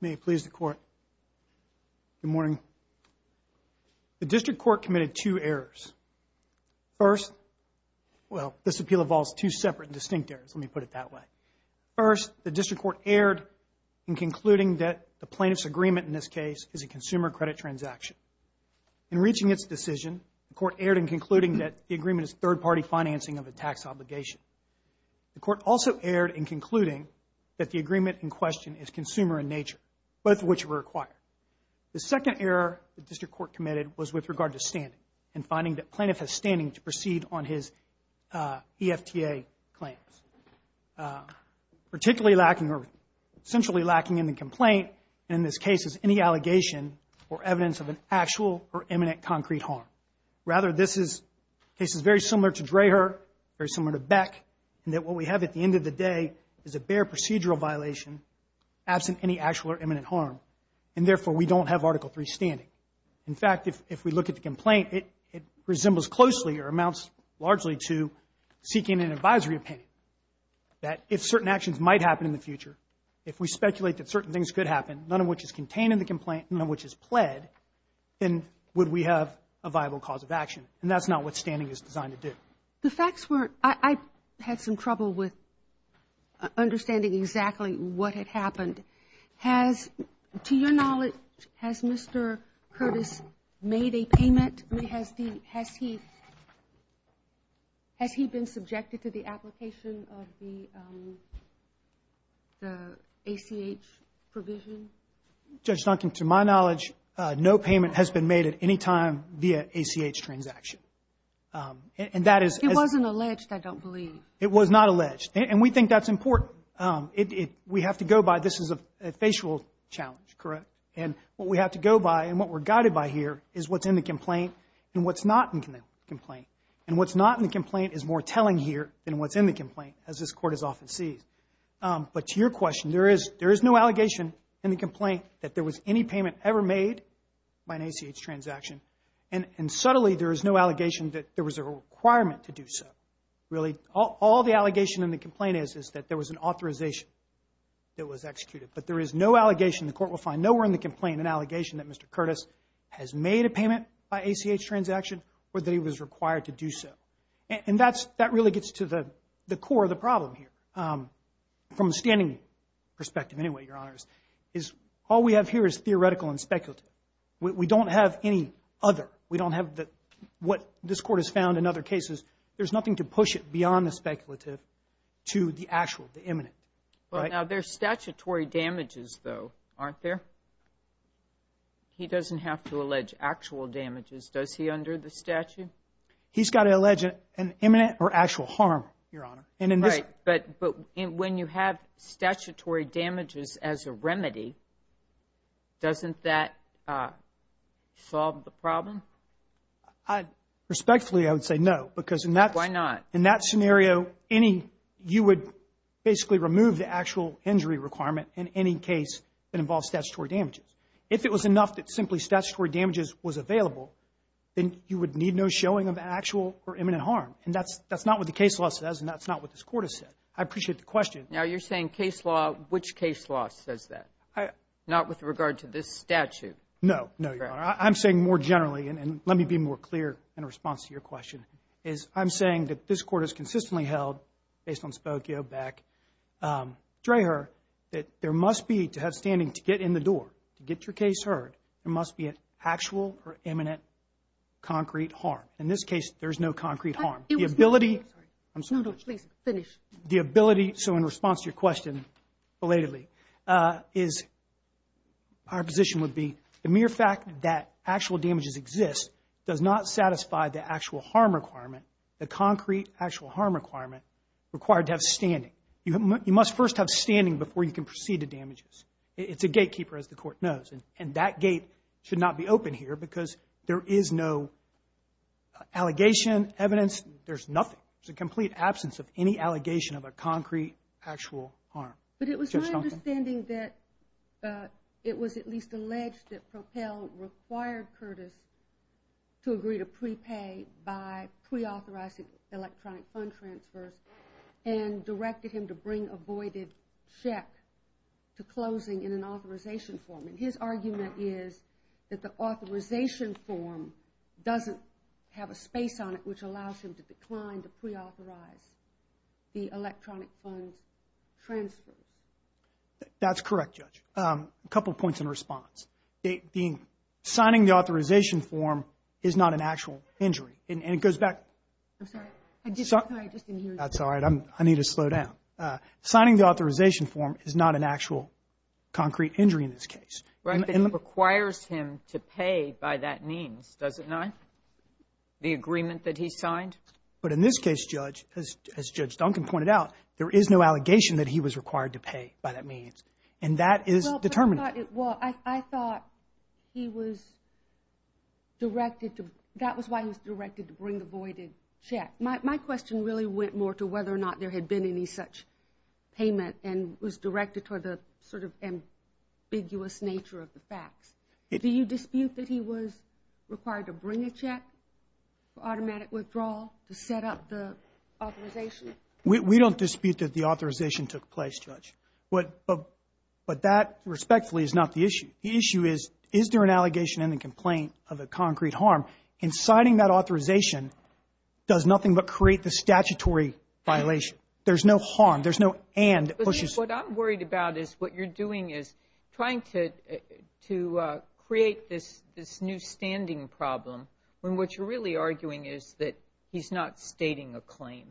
May it please the court. Good morning. The district court committed two errors. First, well this appeal involves two separate and distinct errors, let me put it that way. First, the district court erred in concluding that the plaintiff's agreement in this case is a consumer credit transaction. In reaching its decision, the court erred in concluding that the agreement is third-party financing of a tax obligation. The court also erred in concluding that the agreement in consumer in nature, both of which were required. The second error the district court committed was with regard to standing and finding that plaintiff has standing to proceed on his EFTA claims. Particularly lacking or centrally lacking in the complaint in this case is any allegation or evidence of an actual or imminent concrete harm. Rather, this is cases very similar to Dreher, very similar to Beck, and that what we have at the end of the day is a bare procedural violation absent any actual or imminent harm. And therefore, we don't have Article 3 standing. In fact, if we look at the complaint, it resembles closely or amounts largely to seeking an advisory opinion that if certain actions might happen in the future, if we speculate that certain things could happen, none of which is contained in the complaint, none of which is pled, then would we have a viable cause of action. And that's not what standing is designed to do. The facts were, I had some trouble with understanding exactly what had happened. Has, to your knowledge, has Mr. Curtis made a payment? Has he been subjected to the application of the ACH provision? Judge Duncan, to my knowledge, no payment has been made at any time via ACH transaction. And that is... It wasn't alleged, I don't believe. It was not alleged. And we think that's important. We have to go by, this is a facial challenge, correct? And what we have to go by and what we're guided by here is what's in the complaint and what's not in the complaint. And what's not in the complaint is more telling here than what's in the complaint, as this Court has often sees. But to your question, there is no allegation in the complaint that there was any payment ever made by an ACH transaction. And subtly, there is no allegation that there was a requirement to do so. Really, all the allegation in the complaint is that there was an authorization that was executed. But there is no allegation, the Court will find nowhere in the complaint, an allegation that Mr. Curtis has made a payment by ACH transaction or that he was required to do so. And that really gets to the core of the problem here, from a standing perspective anyway, Your Honors, is all we have here is theoretical and speculative. We don't have any other. We don't have the, what this Court has found in other cases, there's nothing to push it beyond the speculative to the actual, the imminent. Well, now there's statutory damages though, aren't there? He doesn't have to allege actual damages, does he, under the statute? He's got to allege an When you have statutory damages as a remedy, doesn't that solve the problem? Respectfully, I would say no. Because in that scenario, any, you would basically remove the actual injury requirement in any case that involves statutory damages. If it was enough that simply statutory damages was available, then you would need no showing of actual or imminent harm. And that's, that's not what the case law says and that's not what this Court has said. I appreciate the question. Now you're saying case law, which case law says that? Not with regard to this statute. No, no. I'm saying more generally, and let me be more clear in response to your question, is I'm saying that this Court has consistently held, based on Spokio, Beck, Dreher, that there must be, to have standing to get in the door, to get your case heard, there must be an actual or imminent concrete harm. In this case, there's no concrete harm. The ability, I'm So in response to your question, belatedly, is, our position would be the mere fact that actual damages exist does not satisfy the actual harm requirement, the concrete actual harm requirement required to have standing. You must first have standing before you can proceed to damages. It's a gatekeeper, as the Court knows, and that gate should not be open here because there is no allegation, evidence, there's nothing. There's a complete absence of any allegation of a actual harm. But it was my understanding that it was at least alleged that Propel required Curtis to agree to prepay by pre-authorizing electronic fund transfers and directed him to bring a voided check to closing in an authorization form, and his argument is that the authorization form doesn't have a space on it which allows him to decline to pre-authorize the electronic funds transfer. That's correct, Judge. A couple points in response. Signing the authorization form is not an actual injury, and it goes back. I'm sorry, I just didn't hear you. That's all right. I need to slow down. Signing the authorization form is not an actual concrete injury in this case. But it requires him to pay by that means, doesn't it? The agreement that he signed? But in this case, Judge, as Judge Duncan pointed out, there is no allegation that he was required to pay by that means, and that is determined. Well, I thought he was directed to, that was why he was directed to bring the voided check. My question really went more to whether or not there had been any such payment and was directed toward the sort of ambiguous nature of the facts. Do you dispute that he was required to bring a automatic withdrawal to set up the authorization? We don't dispute that the authorization took place, Judge. But that, respectfully, is not the issue. The issue is, is there an allegation in the complaint of a concrete harm? And signing that authorization does nothing but create the statutory violation. There's no harm, there's no and. What I'm worried about is what you're doing is trying to create this new standing problem when what you're really arguing is that he's not stating a claim.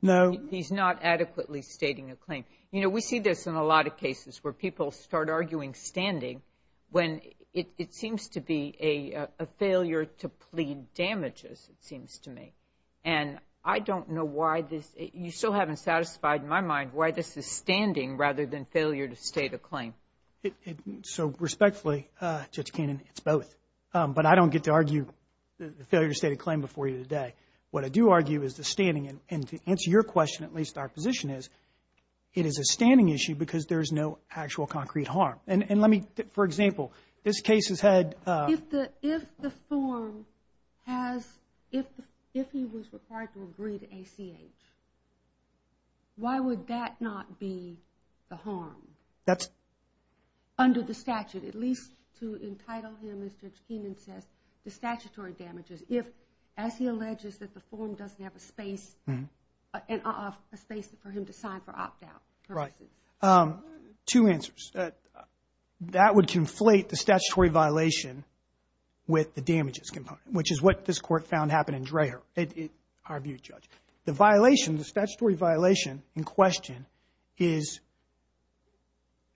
No. He's not adequately stating a claim. You know, we see this in a lot of cases where people start arguing standing when it seems to be a failure to plead damages, it seems to me. And I don't know why this, you still haven't satisfied my mind why this is standing rather than failure to state a claim. Judge Kannon, it's both. But I don't get to argue the failure to state a claim before you today. What I do argue is the standing and to answer your question, at least our position is, it is a standing issue because there's no actual concrete harm. And let me, for example, this case has had. If the form has, if he was required to agree to ACH, why would that not be the harm? That's. Under the to entitle him, as Judge Kannon says, the statutory damages. If, as he alleges that the form doesn't have a space and a space for him to sign for opt out. Right. Two answers that that would conflate the statutory violation with the damages component, which is what this court found happened in Dreher. Our view, Judge, the violation, the statutory violation in question is.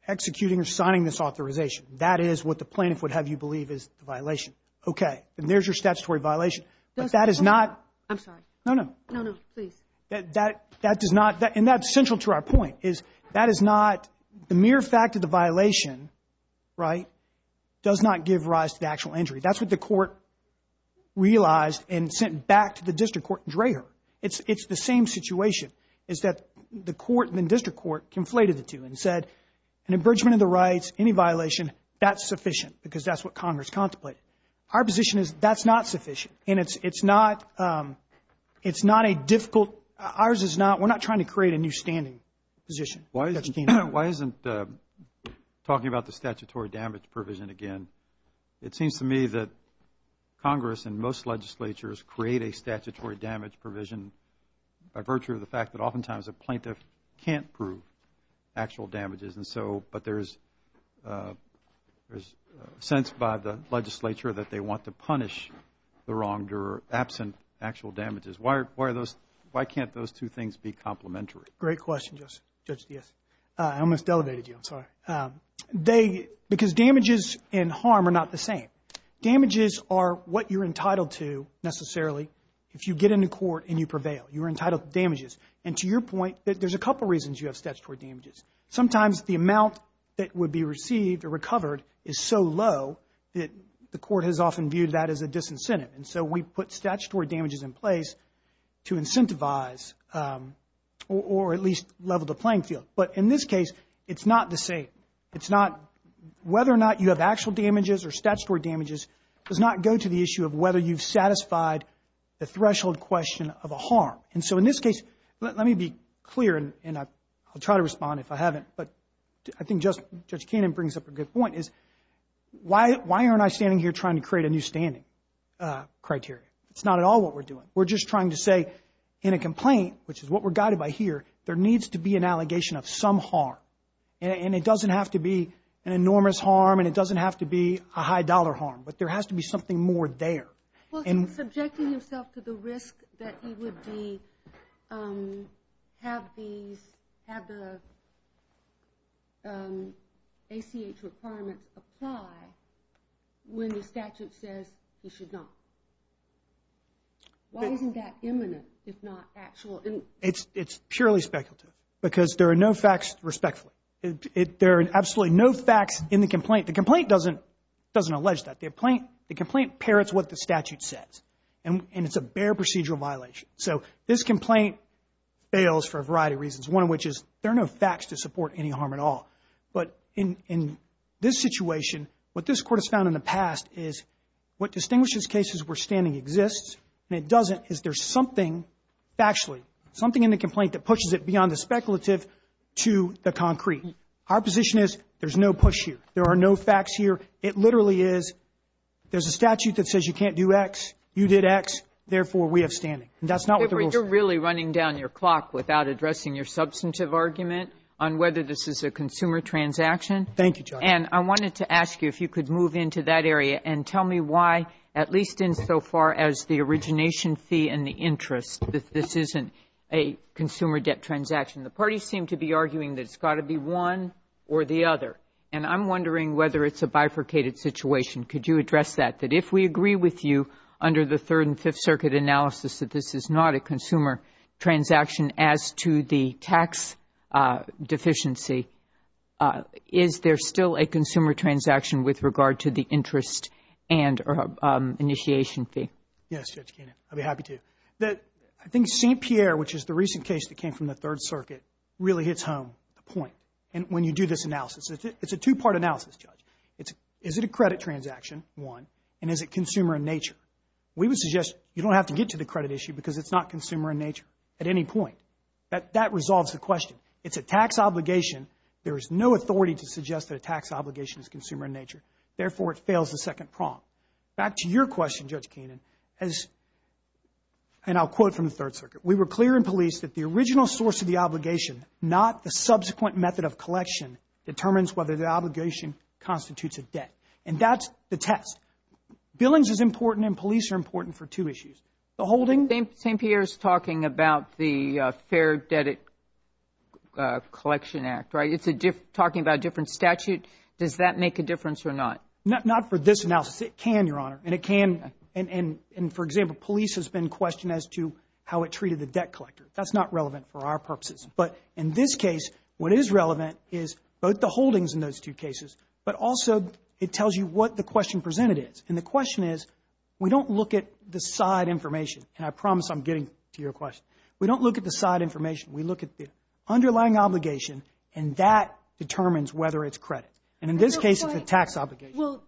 Executing or signing this authorization. That is what the plaintiff would have you believe is the violation. Okay. And there's your statutory violation. That is not. I'm sorry. No, no, no, no, please. That that does not. And that's central to our point is that is not the mere fact of the violation. Right. Does not give rise to the actual injury. That's what the court realized and sent back to the district court Dreher. It's the same situation is that the court in district court conflated the two and said an abridgment of the rights. Any violation that's sufficient because that's what Congress contemplate. Our position is that's not sufficient and it's not. It's not a difficult. Ours is not. We're not trying to create a new standing position. Why? Why isn't talking about the statutory damage provision again? It seems to me that Congress and most legislatures create a statutory damage provision by virtue of the fact that oftentimes a plaintiff can't prove actual damages. And so but there's there's a sense by the legislature that they want to punish the wronged or absent actual damages. Why? Why are those? Why can't those two things be complimentary? Great question. Just judge. Yes, I almost elevated you. I'm sorry. Um, they because damages and harm are not the same. Damages are what you're entitled to necessarily. If you get into court and you prevail, you're and to your point that there's a couple reasons you have statutory damages. Sometimes the amount that would be received or recovered is so low that the court has often viewed that as a disincentive. And so we put statutory damages in place to incentivize, um, or at least level the playing field. But in this case, it's not the same. It's not whether or not you have actual damages or statutory damages does not go to the issue of whether you've me be clear, and I'll try to respond if I haven't. But I think just judge Cannon brings up a good point is why? Why aren't I standing here trying to create a new standing criteria? It's not at all what we're doing. We're just trying to say in a complaint, which is what we're guided by here. There needs to be an allegation of some harm, and it doesn't have to be an enormous harm, and it doesn't have to be a high dollar harm. But there has to be something more there and subjecting himself to the risk that he would be, um, have these have the um, a C. H. Requirements apply when the statute says you should not. Why isn't that imminent, if not actual? It's purely speculative because there are no facts. Respectfully, there are absolutely no facts in the complaint. The complaint doesn't doesn't allege that they're playing. The complaint parrots what the statute says, and it's a bare procedural violation. So this complaint fails for a variety of reasons, one of which is there are no facts to support any harm at all. But in this situation, what this court has found in the past is what distinguishes cases where standing exists and it doesn't is there's something actually something in the complaint that pushes it beyond the speculative to the concrete. Our position is there's no push here. There are no facts here. It literally is. There's a statute that says you can't do X. You did X. Therefore, we have standing. That's not where you're really running down your clock without addressing your substantive argument on whether this is a consumer transaction. Thank you, John. And I wanted to ask you if you could move into that area and tell me why, at least in so far as the origination fee and the interest, that this isn't a consumer debt transaction. The parties seem to be arguing that it's got to be one or the other. And I'm wondering whether it's a bifurcated situation. Could you address that? That if we agree with you under the Third and Fifth Circuit analysis that this is not a consumer transaction as to the tax deficiency, is there still a consumer transaction with regard to the I think St. Pierre, which is the recent case that came from the Third Circuit, really hits home the point. And when you do this analysis, it's a two-part analysis, Judge. Is it a credit transaction, one, and is it consumer in nature? We would suggest you don't have to get to the credit issue because it's not consumer in nature at any point. That resolves the question. It's a tax obligation. There is no authority to suggest that a tax obligation is consumer in nature. Therefore, it fails the second prompt. Back to your question, Judge from the Third Circuit. We were clear in police that the original source of the obligation, not the subsequent method of collection, determines whether the obligation constitutes a debt. And that's the test. Billings is important and police are important for two issues. The holding... St. Pierre is talking about the Fair Debt Collection Act, right? It's talking about a different statute. Does that make a difference or not? Not for this analysis. It can, Your question as to how it treated the debt collector. That's not relevant for our purposes. But in this case, what is relevant is both the holdings in those two cases, but also it tells you what the question presented is. And the question is, we don't look at the side information. And I promise I'm getting to your question. We don't look at the side information. We look at the underlying obligation and that determines whether it's credit. And in this case, it's a tax obligation.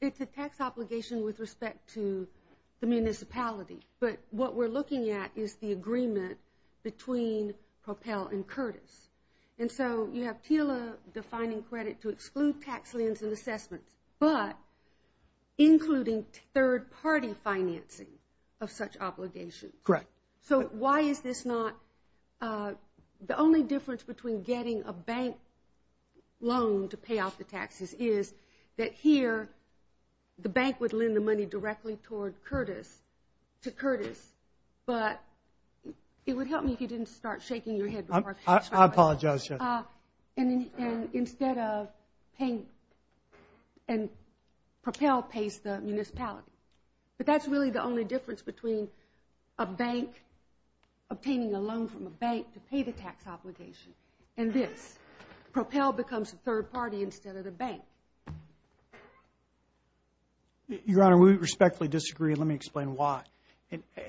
It's a tax obligation with respect to the municipality. But what we're looking at is the agreement between Propel and Curtis. And so you have TILA defining credit to exclude tax liens and assessments, but including third-party financing of such obligations. Correct. So why is this not... The only difference between getting a bank loan to pay off the taxes is that here, the bank would lend the money directly toward Curtis to Curtis. But it would help me if you didn't start shaking your head. I apologize, yes. And instead of paying... And Propel pays the municipality. But that's really the only difference between a bank obtaining a loan from a bank to pay the bank. Your Honor, we respectfully disagree. Let me explain why.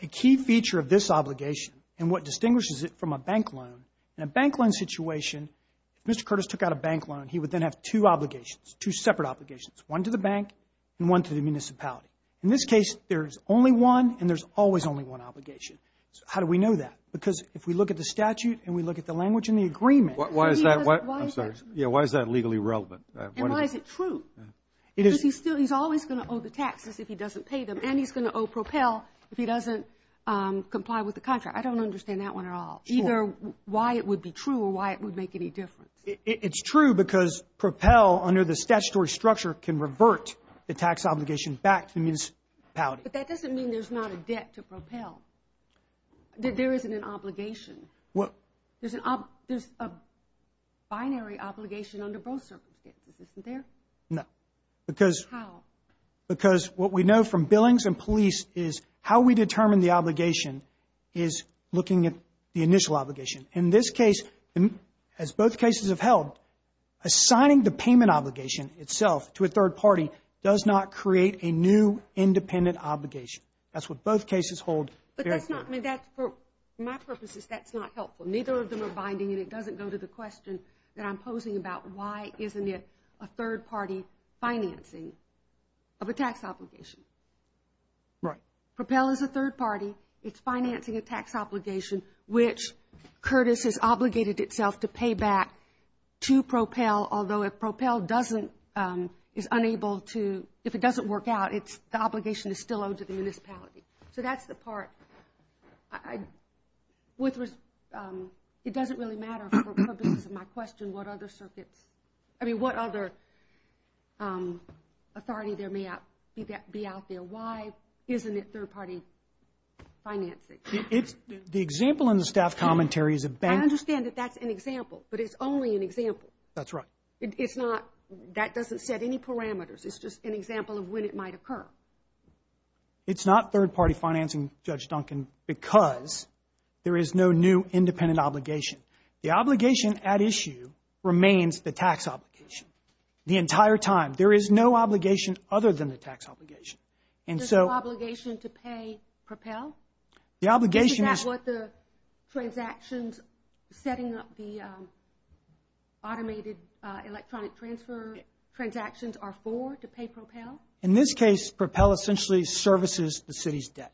A key feature of this obligation and what distinguishes it from a bank loan, in a bank loan situation, if Mr. Curtis took out a bank loan, he would then have two obligations, two separate obligations, one to the bank and one to the municipality. In this case, there's only one and there's always only one obligation. So how do we know that? Because if we look at the statute and we look at the language in the statute... And why is it true? Because he's always going to owe the taxes if he doesn't pay them and he's going to owe Propel if he doesn't comply with the contract. I don't understand that one at all, either why it would be true or why it would make any difference. It's true because Propel, under the statutory structure, can revert the tax obligation back to the municipality. But that doesn't mean there's not a debt to Propel. There isn't an obligation. There's a binary obligation under both circumstances, isn't there? No, because what we know from Billings and police is how we determine the obligation is looking at the initial obligation. In this case, as both cases have held, assigning the payment obligation itself to a third party does not create a new independent obligation. That's what both cases hold. But that's not, I mean, that's for my purposes, that's not helpful. Neither of them are binding and it doesn't go to the question that I'm posing about why isn't it a third party financing of a tax obligation. Right. Propel is a third party. It's financing a tax obligation which Curtis has obligated itself to pay back to Propel, although if Propel doesn't, is unable to, if it doesn't work out, it's, the obligation is still owed to the It doesn't really matter for the purposes of my question, what other circuits, I mean, what other authority there may be out there. Why isn't it third party financing? The example in the staff commentary is a bank. I understand that that's an example, but it's only an example. That's right. It's not, that doesn't set any parameters. It's just an example of when it might occur. It's not third party financing, Judge Duncan, because there is no new independent obligation. The obligation at issue remains the tax obligation. The entire time, there is no obligation other than the tax obligation. And so, There's no obligation to pay Propel? The obligation is, Is that what the transactions setting up the automated electronic transfer transactions are for, to pay Propel? In this case, Propel essentially services the city's debt.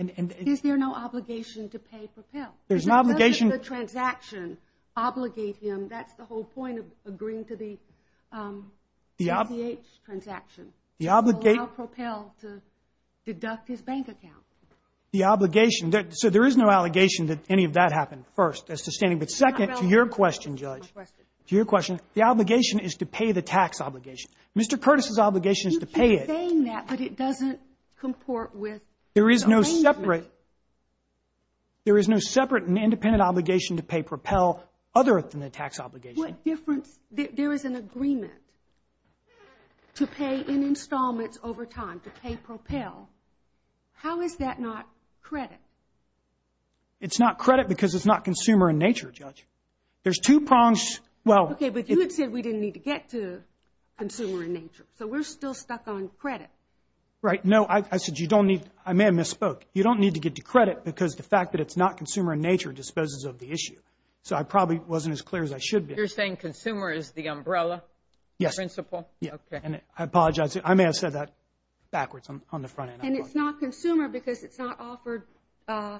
And is there no obligation to pay Propel? There's no obligation. Does the transaction obligate him? That's the whole point of agreeing to the, The CCH transaction, to allow Propel to deduct his bank account. The obligation, so there is no allegation that any of that happened, first, as to standing. But second, to your question, Judge, to your question, the obligation is to pay the tax obligation. Mr. Curtis's obligation is to pay it. You keep saying that, but it doesn't comport with the arraignment. There is no separate, there is no separate and independent obligation to pay Propel, other than the tax obligation. What difference, there is an agreement to pay in installments over time, to pay Propel. How is that not credit? It's not credit because it's not consumer in nature, Judge. There's two prongs. Well, okay, but you had said we didn't need to get to consumer in nature. So we're still stuck on credit. Right, no, I said you don't need, I may have misspoke. You don't need to get to credit because the fact that it's not consumer in nature disposes of the issue. So I probably wasn't as clear as I should be. You're saying consumer is the umbrella principle? Yes, and I apologize. I may have said that backwards on the front end. And it's not consumer because it's not offered for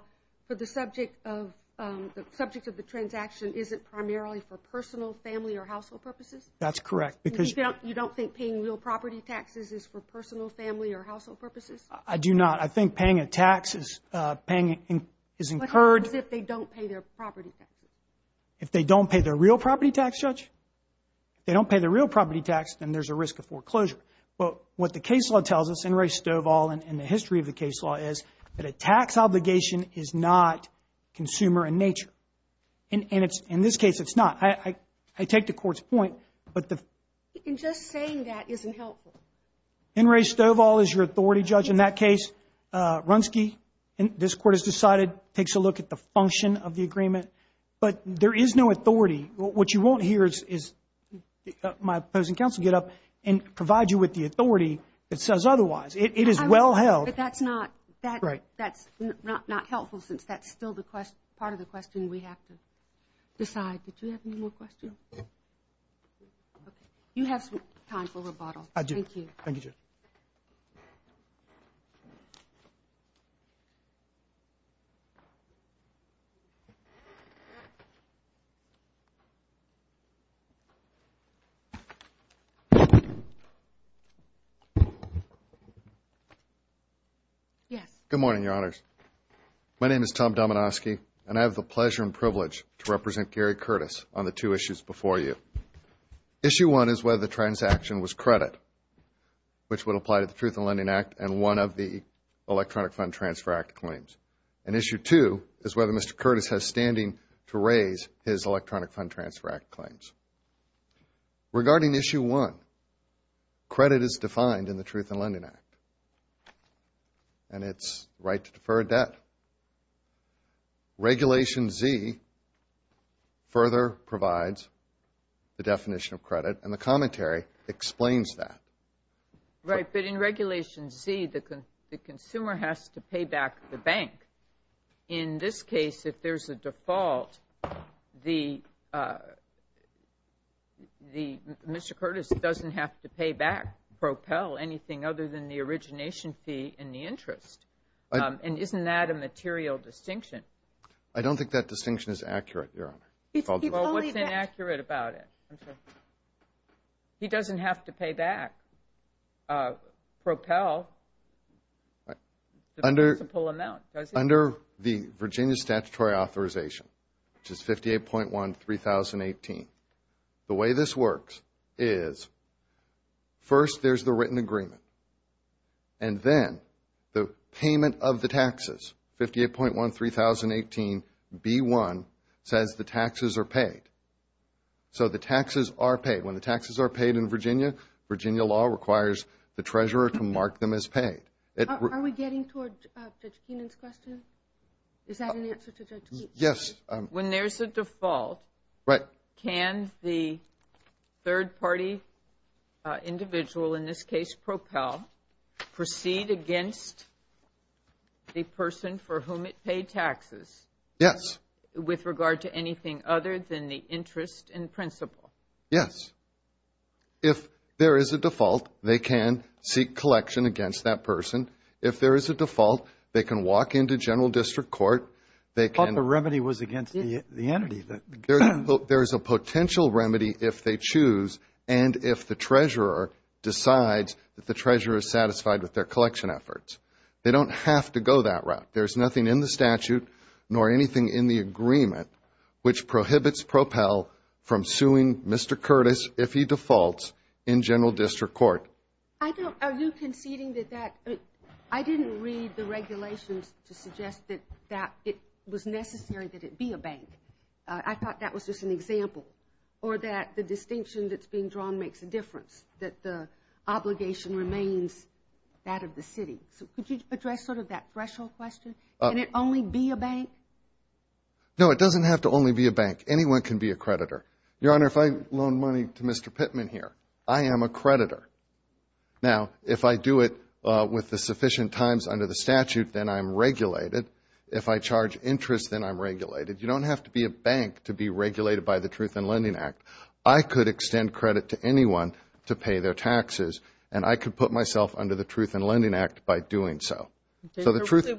the subject of, the subject of the transaction isn't primarily for personal, family, or household purposes? That's correct because. You don't think paying real property taxes is for personal, family, or household purposes? I do not. I think paying a tax is incurred. What happens if they don't pay their property taxes? If they don't pay their real property tax, Judge? If they don't pay their real property tax, then there's a risk of foreclosure. But what the case law tells us, and Ray Stovall and the history of the case law is, that a tax obligation is not consumer in nature. And it's, in this case, it's not. I take the court's point, but the. Just saying that isn't helpful. In Ray Stovall is your authority, Judge, in that case. Runsky, this court has decided, takes a look at the function of the agreement. But there is no authority. What you want here is my opposing counsel get up and provide you with the authority that says otherwise. It is well held. But that's not helpful since that's still part of the question we have to decide. Did you have any more questions? You have some time for rebuttal. Yes. Good morning, Your Honors. My name is Tom Dominoski, and I have the pleasure and privilege to represent Gary Curtis on the two issues before you. Issue one is whether the transaction was credit, which would apply to the Truth in Lending Act and one of the Electronic Fund Transfer Act claims. And issue two is whether Mr. Curtis has standing to raise his Electronic Fund Transfer Act claims. Regarding issue one, credit is defined in the Truth in Lending Act, and it's right to defer a debt. Regulation Z further provides the definition of credit, and the commentary explains that. Right. But in Regulation Z, the consumer has to pay back the bank. In this case, if there's a default, Mr. Curtis doesn't have to pay back, propel anything other than the origination fee and the interest. And isn't that a material distinction? I don't think that distinction is accurate, Your Honor. Well, what's inaccurate about it? He doesn't have to pay back, propel. Under the Virginia Statutory Authorization, which is 58.1-3018, the way this works is first there's the written agreement, and then the payment of the taxes, 58.1-3018-B1 says the taxes are paid. So the taxes are paid. When the taxes are paid in Virginia, Virginia law requires the treasurer to mark them as paid. Are we getting toward Judge Keenan's question? Is that an answer to Judge Keenan's question? Yes. When there's a default, can the third party individual, in this case, propel, proceed against the person for whom it paid taxes? Yes. With regard to anything other than the interest in principle? Yes. If there is a default, they can seek collection against that person. If there is a default, they can walk into general district court. They can... I thought the remedy was against the entity. There's a potential remedy if they choose and if the treasurer decides that the treasurer is satisfied with their collection efforts. They don't have to go that route. There's nothing in the statute nor anything in the agreement which prohibits propel from suing Mr. Curtis if he defaults in general district court. Are you conceding that that... I didn't read the regulations to suggest that it was necessary that it be a bank. I thought that was just an example or that the distinction that's being drawn makes a difference, that the obligation remains that of the city. Could you address sort of that threshold question? Can it only be a bank? No, it doesn't have to only be a bank. Anyone can be a creditor. Your Honor, if I loan money to Mr. Curtis under the statute, then I'm regulated. If I charge interest, then I'm regulated. You don't have to be a bank to be regulated by the Truth in Lending Act. I could extend credit to anyone to pay their taxes and I could put myself under the Truth in Lending Act by doing so. So the truth...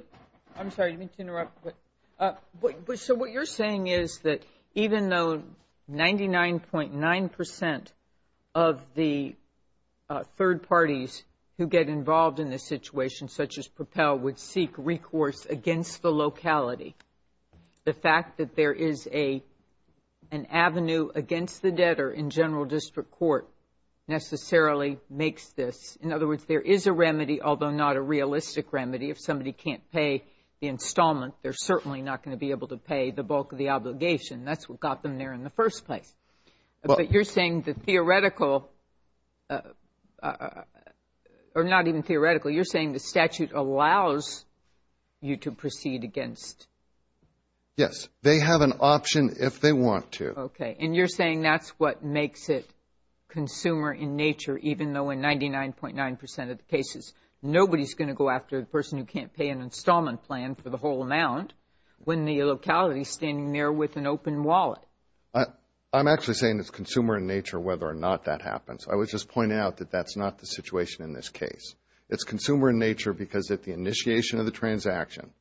I'm sorry, I didn't mean to interrupt, but... So what you're saying is that even though 99.9 percent of the third parties who get involved in this situation, such as Propel, would seek recourse against the locality, the fact that there is an avenue against the debtor in general district court necessarily makes this... In other words, there is a remedy, although not a realistic remedy. If somebody can't pay the installment, they're certainly not going to be able to pay the bulk of the obligation. That's what got them there in the first place. But you're saying the theoretical... Or not even theoretical, you're saying the statute allows you to proceed against... Yes. They have an option if they want to. Okay. And you're saying that's what makes it consumer in nature, even though in 99.9 percent of the cases, nobody's going to go after the person who can't pay an installment plan for the whole amount when the locality is standing there with an open wallet. I'm actually saying it's consumer in nature whether or not that happens. I was just pointing out that that's not the situation in this case. It's consumer in nature because at the initiation of the transaction,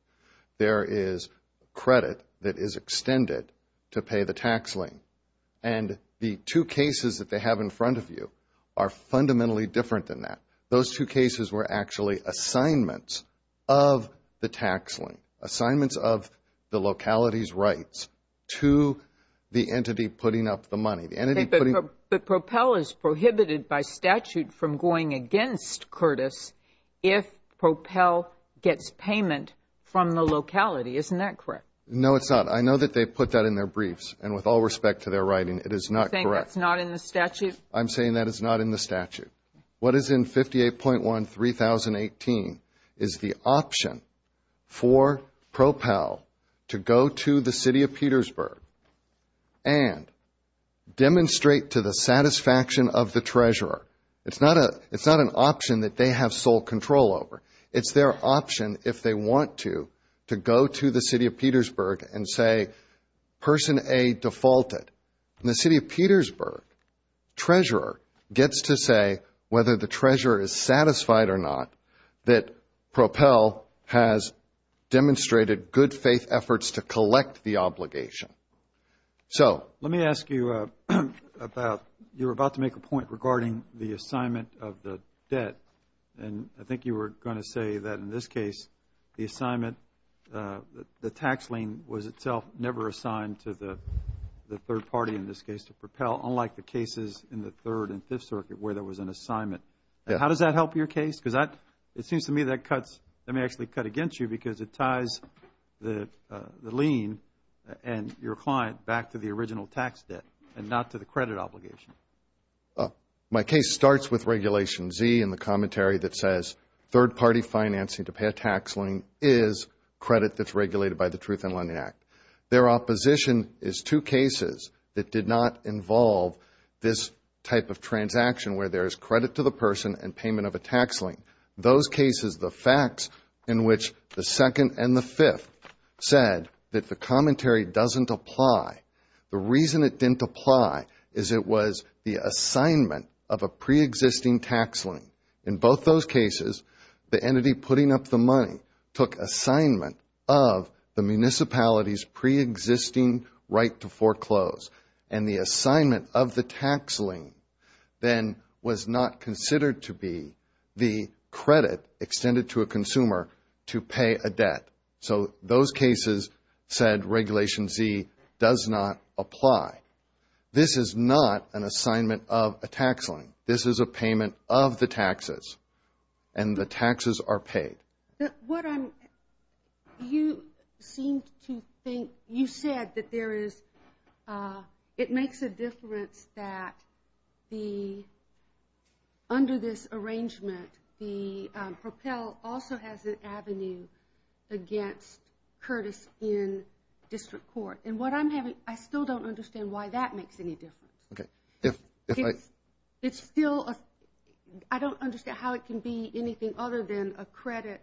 there is credit that is extended to pay the tax lien. And the two cases that they have in front of you are fundamentally different than that. Those two cases were actually assignments of the tax lien, assignments of the locality's rights to the entity putting up the money. But Propel is prohibited by statute from going against Curtis if Propel gets payment from the locality. Isn't that correct? No, it's not. I know that they put that in their briefs. And with all respect to their writing, it is not correct. You think that's not in the statute? I'm saying that it's not in the statute. What is in 58.1-3018 is the option for Propel to go to the city of Petersburg and demonstrate to the satisfaction of the treasurer. It's not an option that they have sole control over. It's their option if they want to, to go to the city of Petersburg and say, Person A defaulted. In the city of Petersburg, treasurer gets to say whether the treasurer is satisfied or not that Propel has demonstrated good faith efforts to collect the obligation. Let me ask you about, you were about to make a point regarding the assignment of the debt. And I think you were going to say that in this case, the assignment, the tax lien was itself never assigned to the third party in this case to Propel, unlike the cases in the Third and Fifth Circuit where there was an assignment. How does that help your case? Because it seems to me that cuts, that may actually cut against you because it ties the lien and your client back to the original tax debt and not to the credit obligation. My case starts with Regulation Z in the commentary that says third party financing to pay a tax lien is credit that's regulated by the Truth in Lending Act. Their opposition is two cases that did not involve this type of transaction where there is credit to the person and payment of a tax lien. Those cases, the facts in which the Second and the Fifth said that the commentary doesn't apply. The reason it didn't apply is it was the assignment of a pre-existing tax lien. In both those cases, the entity putting up the money took assignment of the municipality's pre-existing right to foreclose and the assignment of the tax lien then was not considered to be the credit extended to a consumer to pay a debt. So those cases said Regulation Z does not apply. This is not an assignment of a tax lien. This is a payment of the taxes and the taxes are paid. You seem to think, you said that there is, it makes a difference that the, under this arrangement, the Propel also has an avenue against Curtis Inn District Court. And what I'm having, I still don't understand why that makes any difference. Okay. It's still, I don't understand how it can be anything other than a credit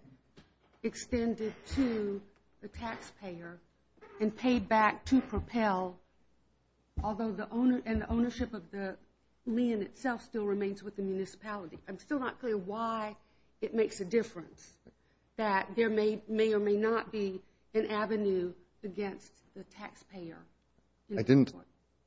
extended to the taxpayer and paid back to Propel, although the owner and the ownership of the lien itself still remains with the municipality. I'm still not clear why it makes a difference that there may or may not be an avenue against the taxpayer. I didn't,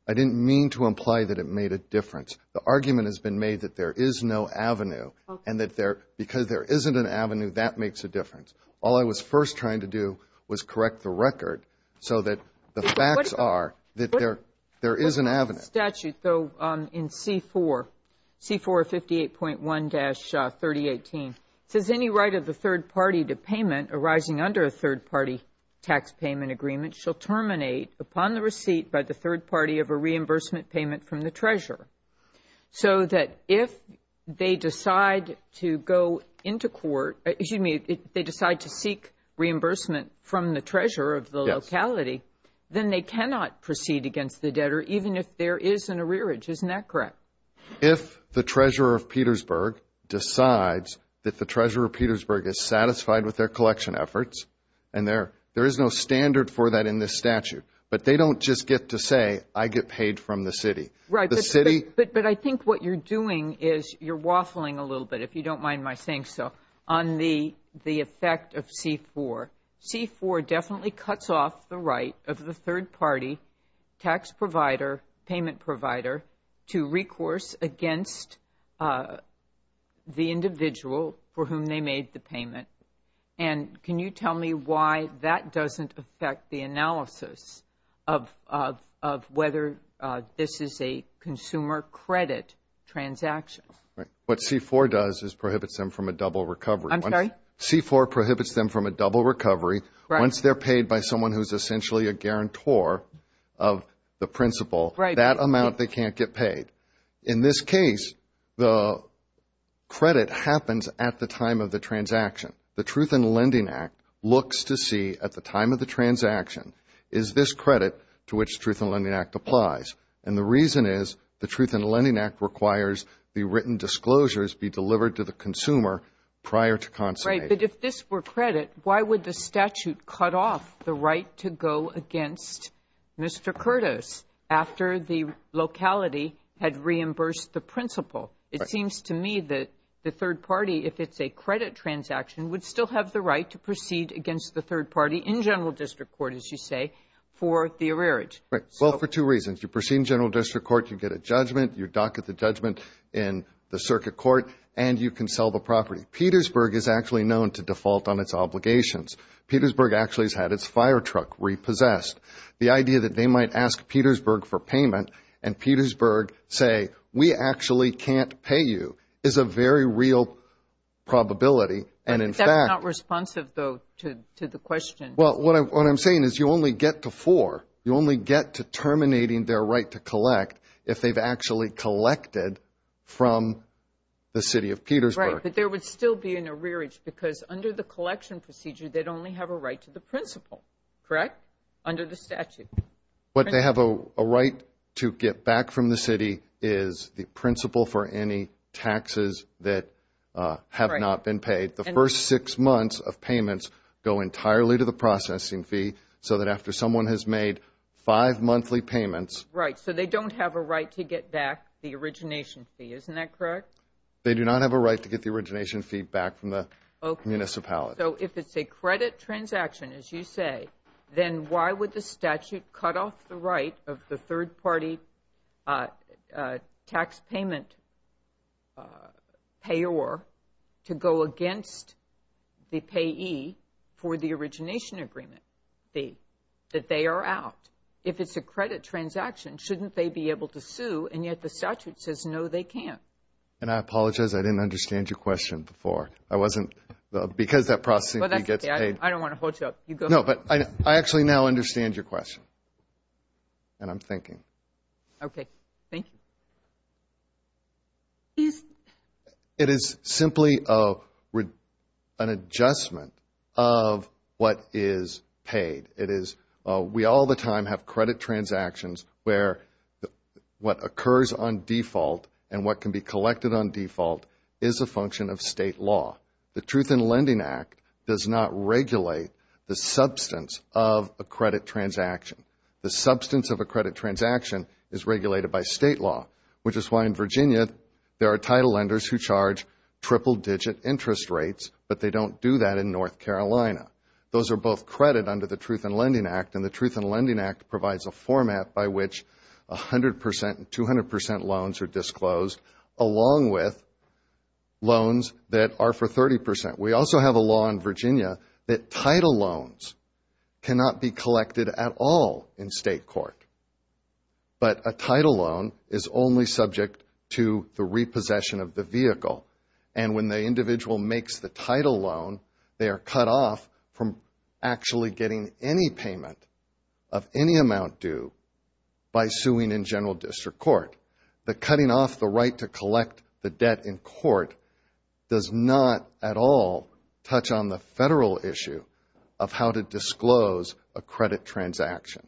I didn't mean to imply that it made a difference. The argument has been made that there is no avenue and that there, because there isn't an avenue, that makes a difference. All I was first trying to do was correct the record so that the facts are that there, there is an avenue. Statute though in C4, C458.1-3018 says any right of the third party to payment arising under a third party tax payment agreement shall terminate upon the receipt by the third party of a reimbursement payment from the treasurer. So that if they decide to go into court, excuse me, they decide to seek reimbursement from the treasurer of the locality, then they cannot proceed against the debtor even if there is an arrearage. Isn't that correct? If the treasurer of Petersburg decides that the treasurer of Petersburg is satisfied with their collection efforts and there, there is no standard for that in this statute, but they don't just get to say I get paid from the city. Right. The city. But, but I think what you're doing is you're waffling a little bit, if you don't mind my saying so, on the, the effect of C4. C4 definitely cuts off the right of the third party tax provider, payment provider, to recourse against the individual for whom they made the payment. And can you tell me why that doesn't affect the analysis of, of, of whether this is a consumer credit transaction? Right. What C4 does is prohibits them from a double recovery. I'm sorry? C4 prohibits them from a double recovery. Right. Once they're paid by someone who's essentially a guarantor of the principal. Right. That amount they can't get paid. In this case, the credit happens at the time of the transaction. The Truth in Lending Act looks to see at the time of the transaction is this credit to which Truth in Lending Act applies. And the reason is the Truth in Lending Act requires the written disclosures be delivered to the consumer prior to consummation. Right. But if this were credit, why would the statute cut off the right to go against Mr. Curtis after the locality had reimbursed the principal? It seems to me that the third party, if it's a credit transaction, would still have the right to proceed against the third party in general district court, as you say, for the arrearage. Right. Well, for two reasons. You proceed in general district court, you get a judgment, you docket the judgment in the circuit court, and you can sell the property. Petersburg is actually known to default on its obligations. Petersburg actually has had its firetruck repossessed. The idea that they might ask Petersburg for payment and Petersburg say, we actually can't pay you, is a very real probability. And in fact... That's not responsive, though, to the question. Well, what I'm saying is you only get to four. You only get to terminating their right to collect if they've actually collected from the city of Petersburg. Right. But there would still be an arrearage, because under the collection procedure, they'd only have a right to the principal, correct? Under the statute. What they have a right to get back from the city is the principal for any taxes that have not been paid. The first six months of payments go entirely to the processing fee, so that after someone has made five monthly payments... Right. So they don't have a right to get back the origination fee. Isn't that correct? They do not have a right to get the origination fee back from the municipality. Okay. So if it's a credit transaction, as you say, then why would the statute cut off the right of the third-party tax payment payer to go against the payee for the origination agreement fee that they are out? If it's a credit transaction, shouldn't they be able to sue? And yet the statute says, no, they can't. And I apologize. I didn't understand your question before. I wasn't... Because that processing fee gets paid. I don't want to hold you up. You go ahead. No, but I actually now understand your question. And I'm thinking. Okay. Thank you. It is simply an adjustment of what is paid. It is... We all the time have credit transactions where what occurs on default and what can be collected on default is a function of state law. The Truth in Lending Act does not regulate the substance of a credit transaction. The substance of a credit transaction is regulated by state law, which is why in Virginia there are title lenders who charge triple-digit interest rates, but they don't do that in North Carolina. Those are both credit under the Truth in Lending Act and the Truth in Lending Act provides a format by which 100% and 200% loans are disclosed along with loans that are for 30%. We also have a law in Virginia that title loans cannot be collected at all in state court, but a title loan is only subject to the repossession of the vehicle. And when the individual makes the title loan, they are cut off from actually getting any payment of any amount due by suing in general district court. The cutting off the right to collect the debt in court does not at all touch on the federal issue of how to disclose a credit transaction.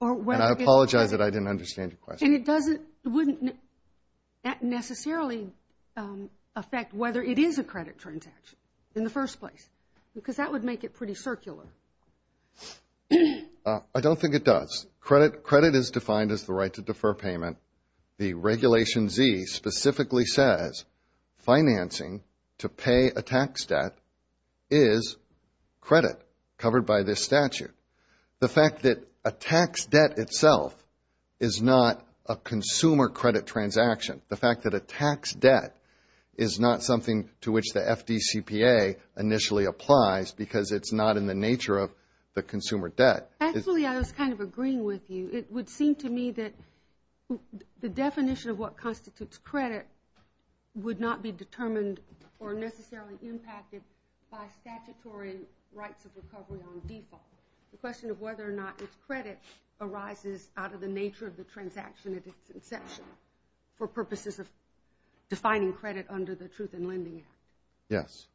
And I apologize that I didn't understand your question. And it doesn't, it wouldn't necessarily affect whether it is a credit transaction in the first place, because that would make it pretty circular. I don't think it does. Credit is defined as the right to defer payment. The Regulation Z specifically says financing to pay a tax debt is credit covered by this statute. The fact that a tax debt itself is not a consumer credit transaction, the fact that a tax debt is not something to which the FDCPA initially applies because it's not in the nature of the consumer debt. Actually, I was kind of agreeing with you. It would seem to me that the definition of what constitutes credit would not be determined or necessarily impacted by statutory rights of recovery on default. The question of whether or not it's credit arises out of the nature of the transaction at its inception for purposes of defining credit under the Truth in Lending Act. Yes.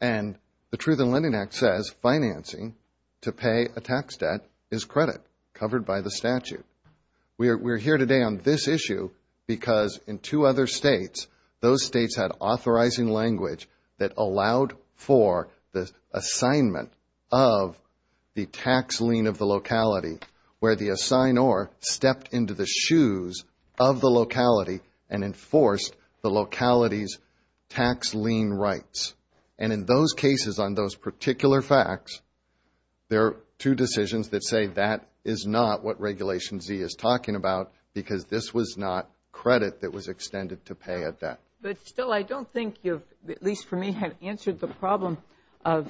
And the Truth in Lending Act says financing to pay a tax debt is credit covered by the statute. We're here today on this issue because in two other states, those states had authorizing language that allowed for the assignment of the tax lien of the locality where the assignor stepped into the shoes of the locality and there are two decisions that say that is not what Regulation Z is talking about because this was not credit that was extended to pay a debt. But still, I don't think you've, at least for me, have answered the problem of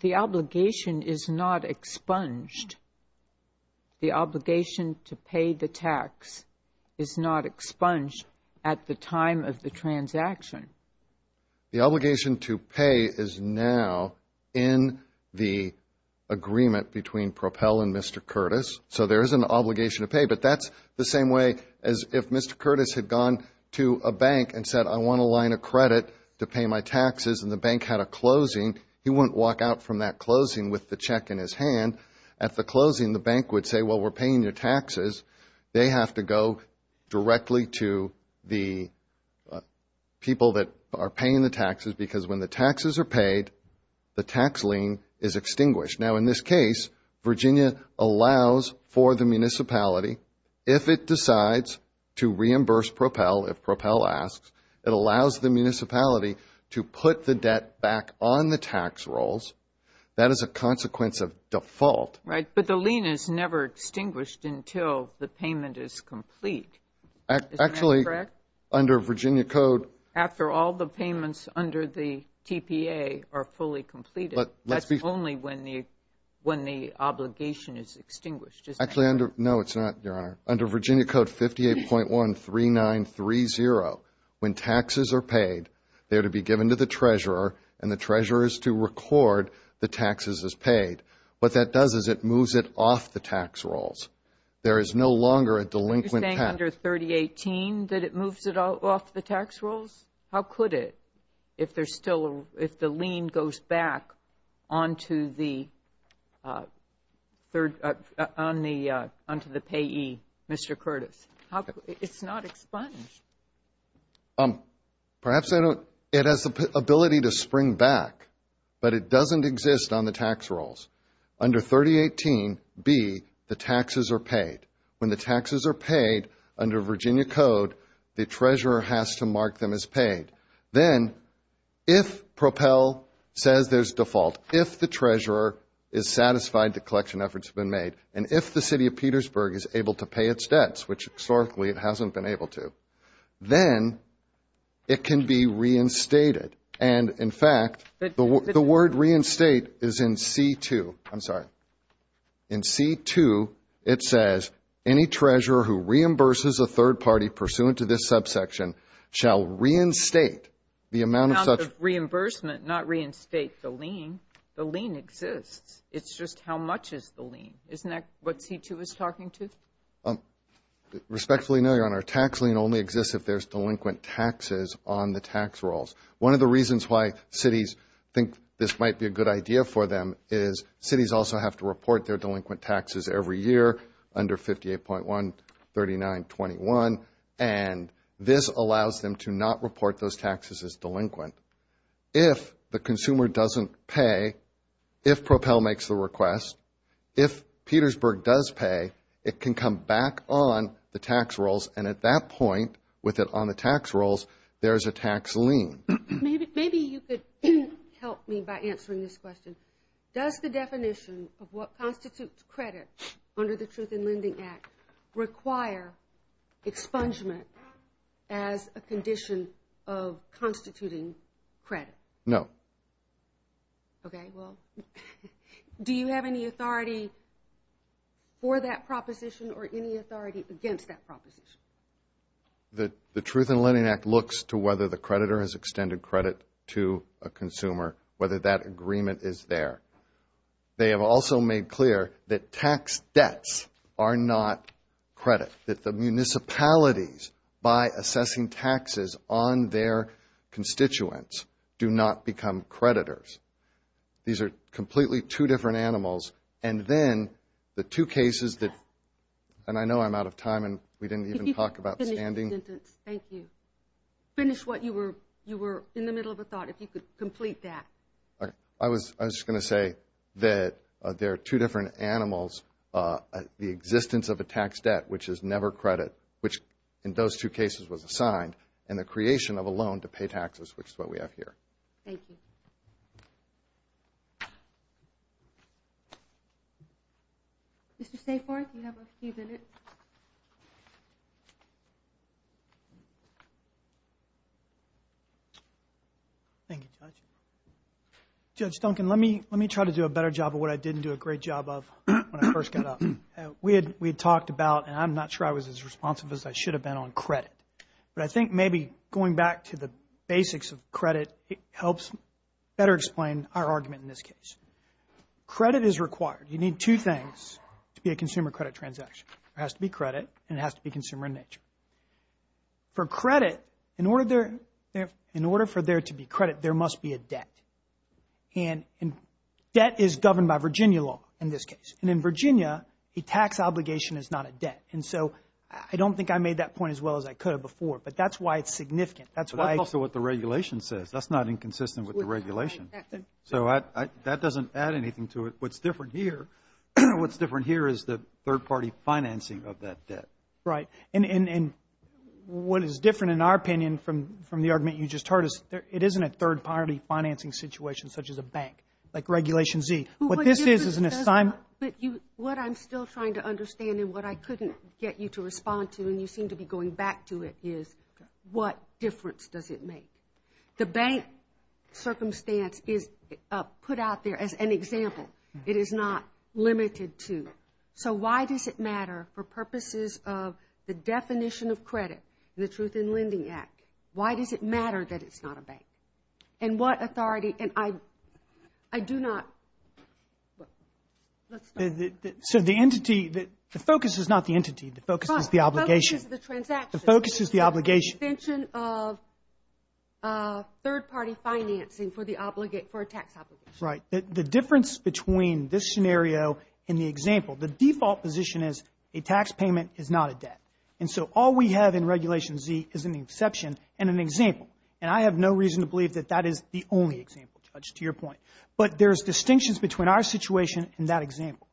the obligation is not expunged. The obligation to pay the tax is not expunged at the time of the transaction. The obligation to pay is now in the agreement between Propel and Mr. Curtis. So there is an obligation to pay, but that's the same way as if Mr. Curtis had gone to a bank and said, I want a line of credit to pay my taxes and the bank had a closing, he wouldn't walk out from that closing with the check in his hand. At the closing, the bank would say, well, we're paying your taxes. They have to go directly to the people that are paying the taxes because when the taxes are paid, the tax lien is extinguished. Now, in this case, Virginia allows for the municipality, if it decides to reimburse Propel, if Propel asks, it allows the municipality to put the debt back on the tax rolls. That is a consequence of default. But the lien is never extinguished until the payment is complete. Actually, under Virginia Code. After all the payments under the TPA are fully completed, that's only when the obligation is extinguished. Actually, no, it's not, Your Honor. Under Virginia Code 58.13930, when taxes are paid, they are to be given to the treasurer and the treasurer is to record the taxes as paid. What that does is it moves it off the tax rolls. There is no longer a delinquent tax. Are you saying under 3018 that it moves it off the tax rolls? How could it if there's still, if the lien goes back onto the payee, Mr. Curtis? It's not expunged. Perhaps I don't, it has the ability to spring back, but it doesn't exist on the tax rolls. Under 3018B, the taxes are paid. When the taxes are paid under Virginia Code, the treasurer has to mark them as paid. Then if Propel says there's default, if the treasurer is satisfied the collection efforts have been made, and if the city of Petersburg is able to pay its debts, which historically it hasn't been able to, then it can be reinstated. In fact, the word reinstate is in C-2. I'm sorry. In C-2, it says any treasurer who reimburses a third party pursuant to this subsection shall reinstate the amount of such reimbursement. Not reinstate the lien. The lien exists. It's just how much is the lien. Isn't that what C-2 is talking to? Respectfully, no, Your Honor. Tax lien only exists if there's delinquent taxes on the tax rolls. One of the reasons why cities think this might be a good idea for them is cities also have to report their delinquent taxes every year under 58.13921, and this allows them to not report those taxes as delinquent. If the consumer doesn't pay, if Propel makes the request, if Petersburg does pay, it can come back on the tax rolls, and at that point, with it on the tax rolls, there's a tax lien. Maybe you could help me by answering this question. Does the definition of what constitutes credit under the Truth in Lending Act require expungement as a condition of constituting credit? No. Okay, well, do you have any authority for that proposition or any authority against that proposition? The Truth in Lending Act looks to whether the creditor has extended credit to a consumer, whether that agreement is there. They have also made clear that tax debts are not credit, that the municipalities, by assessing taxes on their constituents, do not become creditors. These are completely two different animals, and then the two cases that, and I know I'm out of time, and we didn't even talk about standing. Thank you. Finish what you were, you were in the middle of a thought, if you could complete that. I was just going to say that there are two different animals, the existence of a tax debt, which is never credit, which in those two cases was assigned, and the creation of a loan to pay taxes, which is what we have here. Thank you. Mr. Saforth, you have a few minutes. Thank you, Judge. Judge Duncan, let me try to do a better job of what I didn't do a great job of when I first got up. We had talked about, and I'm not sure I was as responsive as I should have been on credit, but I think maybe going back to the basics of credit, it helps better explain our argument in this case. Credit is required. You need two things to be a consumer credit transaction. There has to be credit, and it has to be consumer in nature. For credit, in order for there to be credit, there must be a debt, and debt is governed by Virginia law in this case, and in Virginia, a tax obligation is not a debt, and so I don't think I made that point as well as I could have before, but that's why it's significant. But that's also what the regulation says. That's not inconsistent with the regulation, so that doesn't add anything to it. What's different here is the third-party financing of that debt. Right, and what is different, in our opinion, from the argument you just heard is it isn't a third-party financing situation such as a bank, like Regulation Z. What this is is an assignment. But what I'm still trying to understand, and what I couldn't get you to respond to, and you seem to be going back to it, is what difference does it make? The bank circumstance is put out there as an example. It is not limited to, so why does it matter for purposes of the definition of credit and the Truth in Lending Act, why does it matter that it's not a bank? And what authority, and I do not, let's start. So the entity, the focus is not the entity, the focus is the obligation. The focus is the transaction. The focus is the obligation. The definition of third-party financing for a tax obligation. Right. The difference between this scenario and the example, the default position is a tax payment is not a debt, and so all we have in Regulation Z is an exception and an example, and I have no reason to believe that that is the only example, Judge, to your point. But there's distinctions between our situation and that example.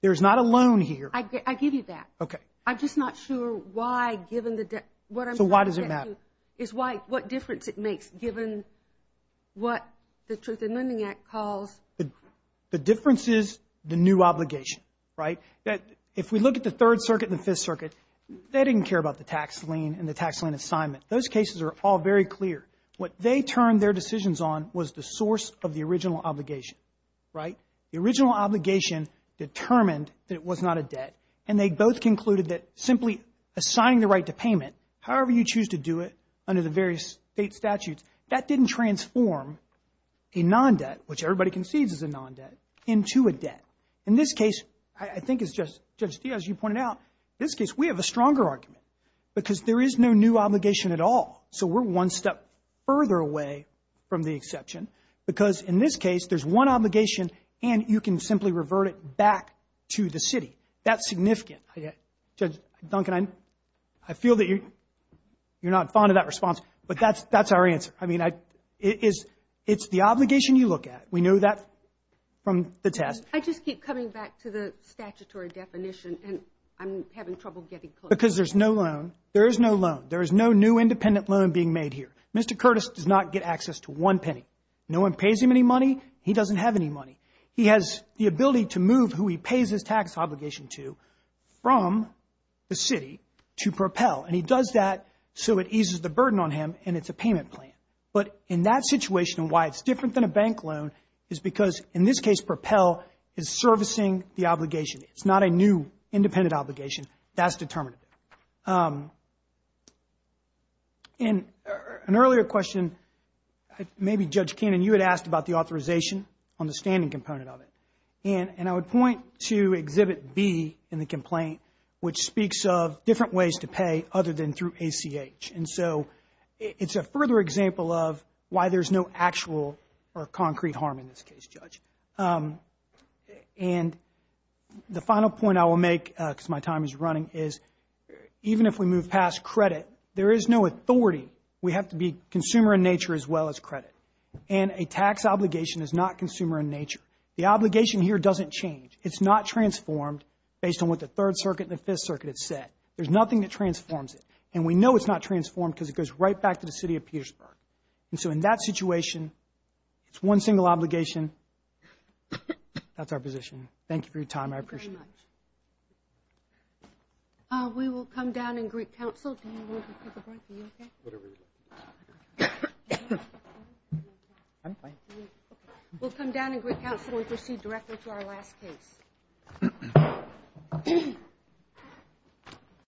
There's not a loan here. I give you that. Okay. I'm just not sure why, given the debt, what I'm trying to get to. So why does it matter? Is why, what difference it makes, given what the Truth in Lending Act calls. The difference is the new obligation, right? If we look at the Third Circuit and the Fifth Circuit, they didn't care about the tax lien and the tax lien assignment. Those cases are all very clear. What they turned their decisions on was the source of the original obligation, right? The original obligation determined that it was not a debt, and they both concluded that simply assigning the right to payment, however you choose to do it under the various state statutes, that didn't transform a non-debt, which everybody concedes is a non-debt, into a debt. In this case, I think it's just, Judge Diaz, you pointed out, in this case, we have a stronger argument, because there is no new obligation at all. So we're one step further away from the exception, because in this case, there's one obligation, and you can simply revert it back to the city. That's significant. Judge Duncan, I feel that you're not fond of that response, but that's our answer. I mean, it's the obligation you look at. We know that from the test. I just keep coming back to the statutory definition, and I'm having trouble getting close. Because there's no loan. There is no loan. There is no new independent loan being made here. Mr. Curtis does not get access to one penny. No one pays him any money. He doesn't have any money. He has the ability to move who he pays his tax obligation to from the city to Propel, and he does that so it eases the burden on him, and it's a payment plan. But in that situation, why it's different than a bank loan is because, in this case, Propel is servicing the obligation. It's not a new independent obligation. That's determinative. In an earlier question, maybe, Judge Cannon, you had asked about the authorization on the standing component of it, and I would point to Exhibit B in the complaint, which speaks of different ways to pay other than through ACH. And so it's a further example of why there's no actual or concrete harm in this case, Judge. And the final point I will make, because my time is running, is even if we move past credit, there is no authority. We have to be consumer in nature as well as credit, and a tax obligation is not consumer in nature. The obligation here doesn't change. It's not transformed based on what the Third Circuit and the Fifth Circuit have said. There's nothing that transforms it, and we know it's not transformed because it goes right back to the city of Petersburg. And so in that situation, it's one single obligation. That's our position. Thank you for your time. I appreciate it. Thank you very much. We will come down and greet counsel. We'll come down and greet counsel and proceed directly to our last case.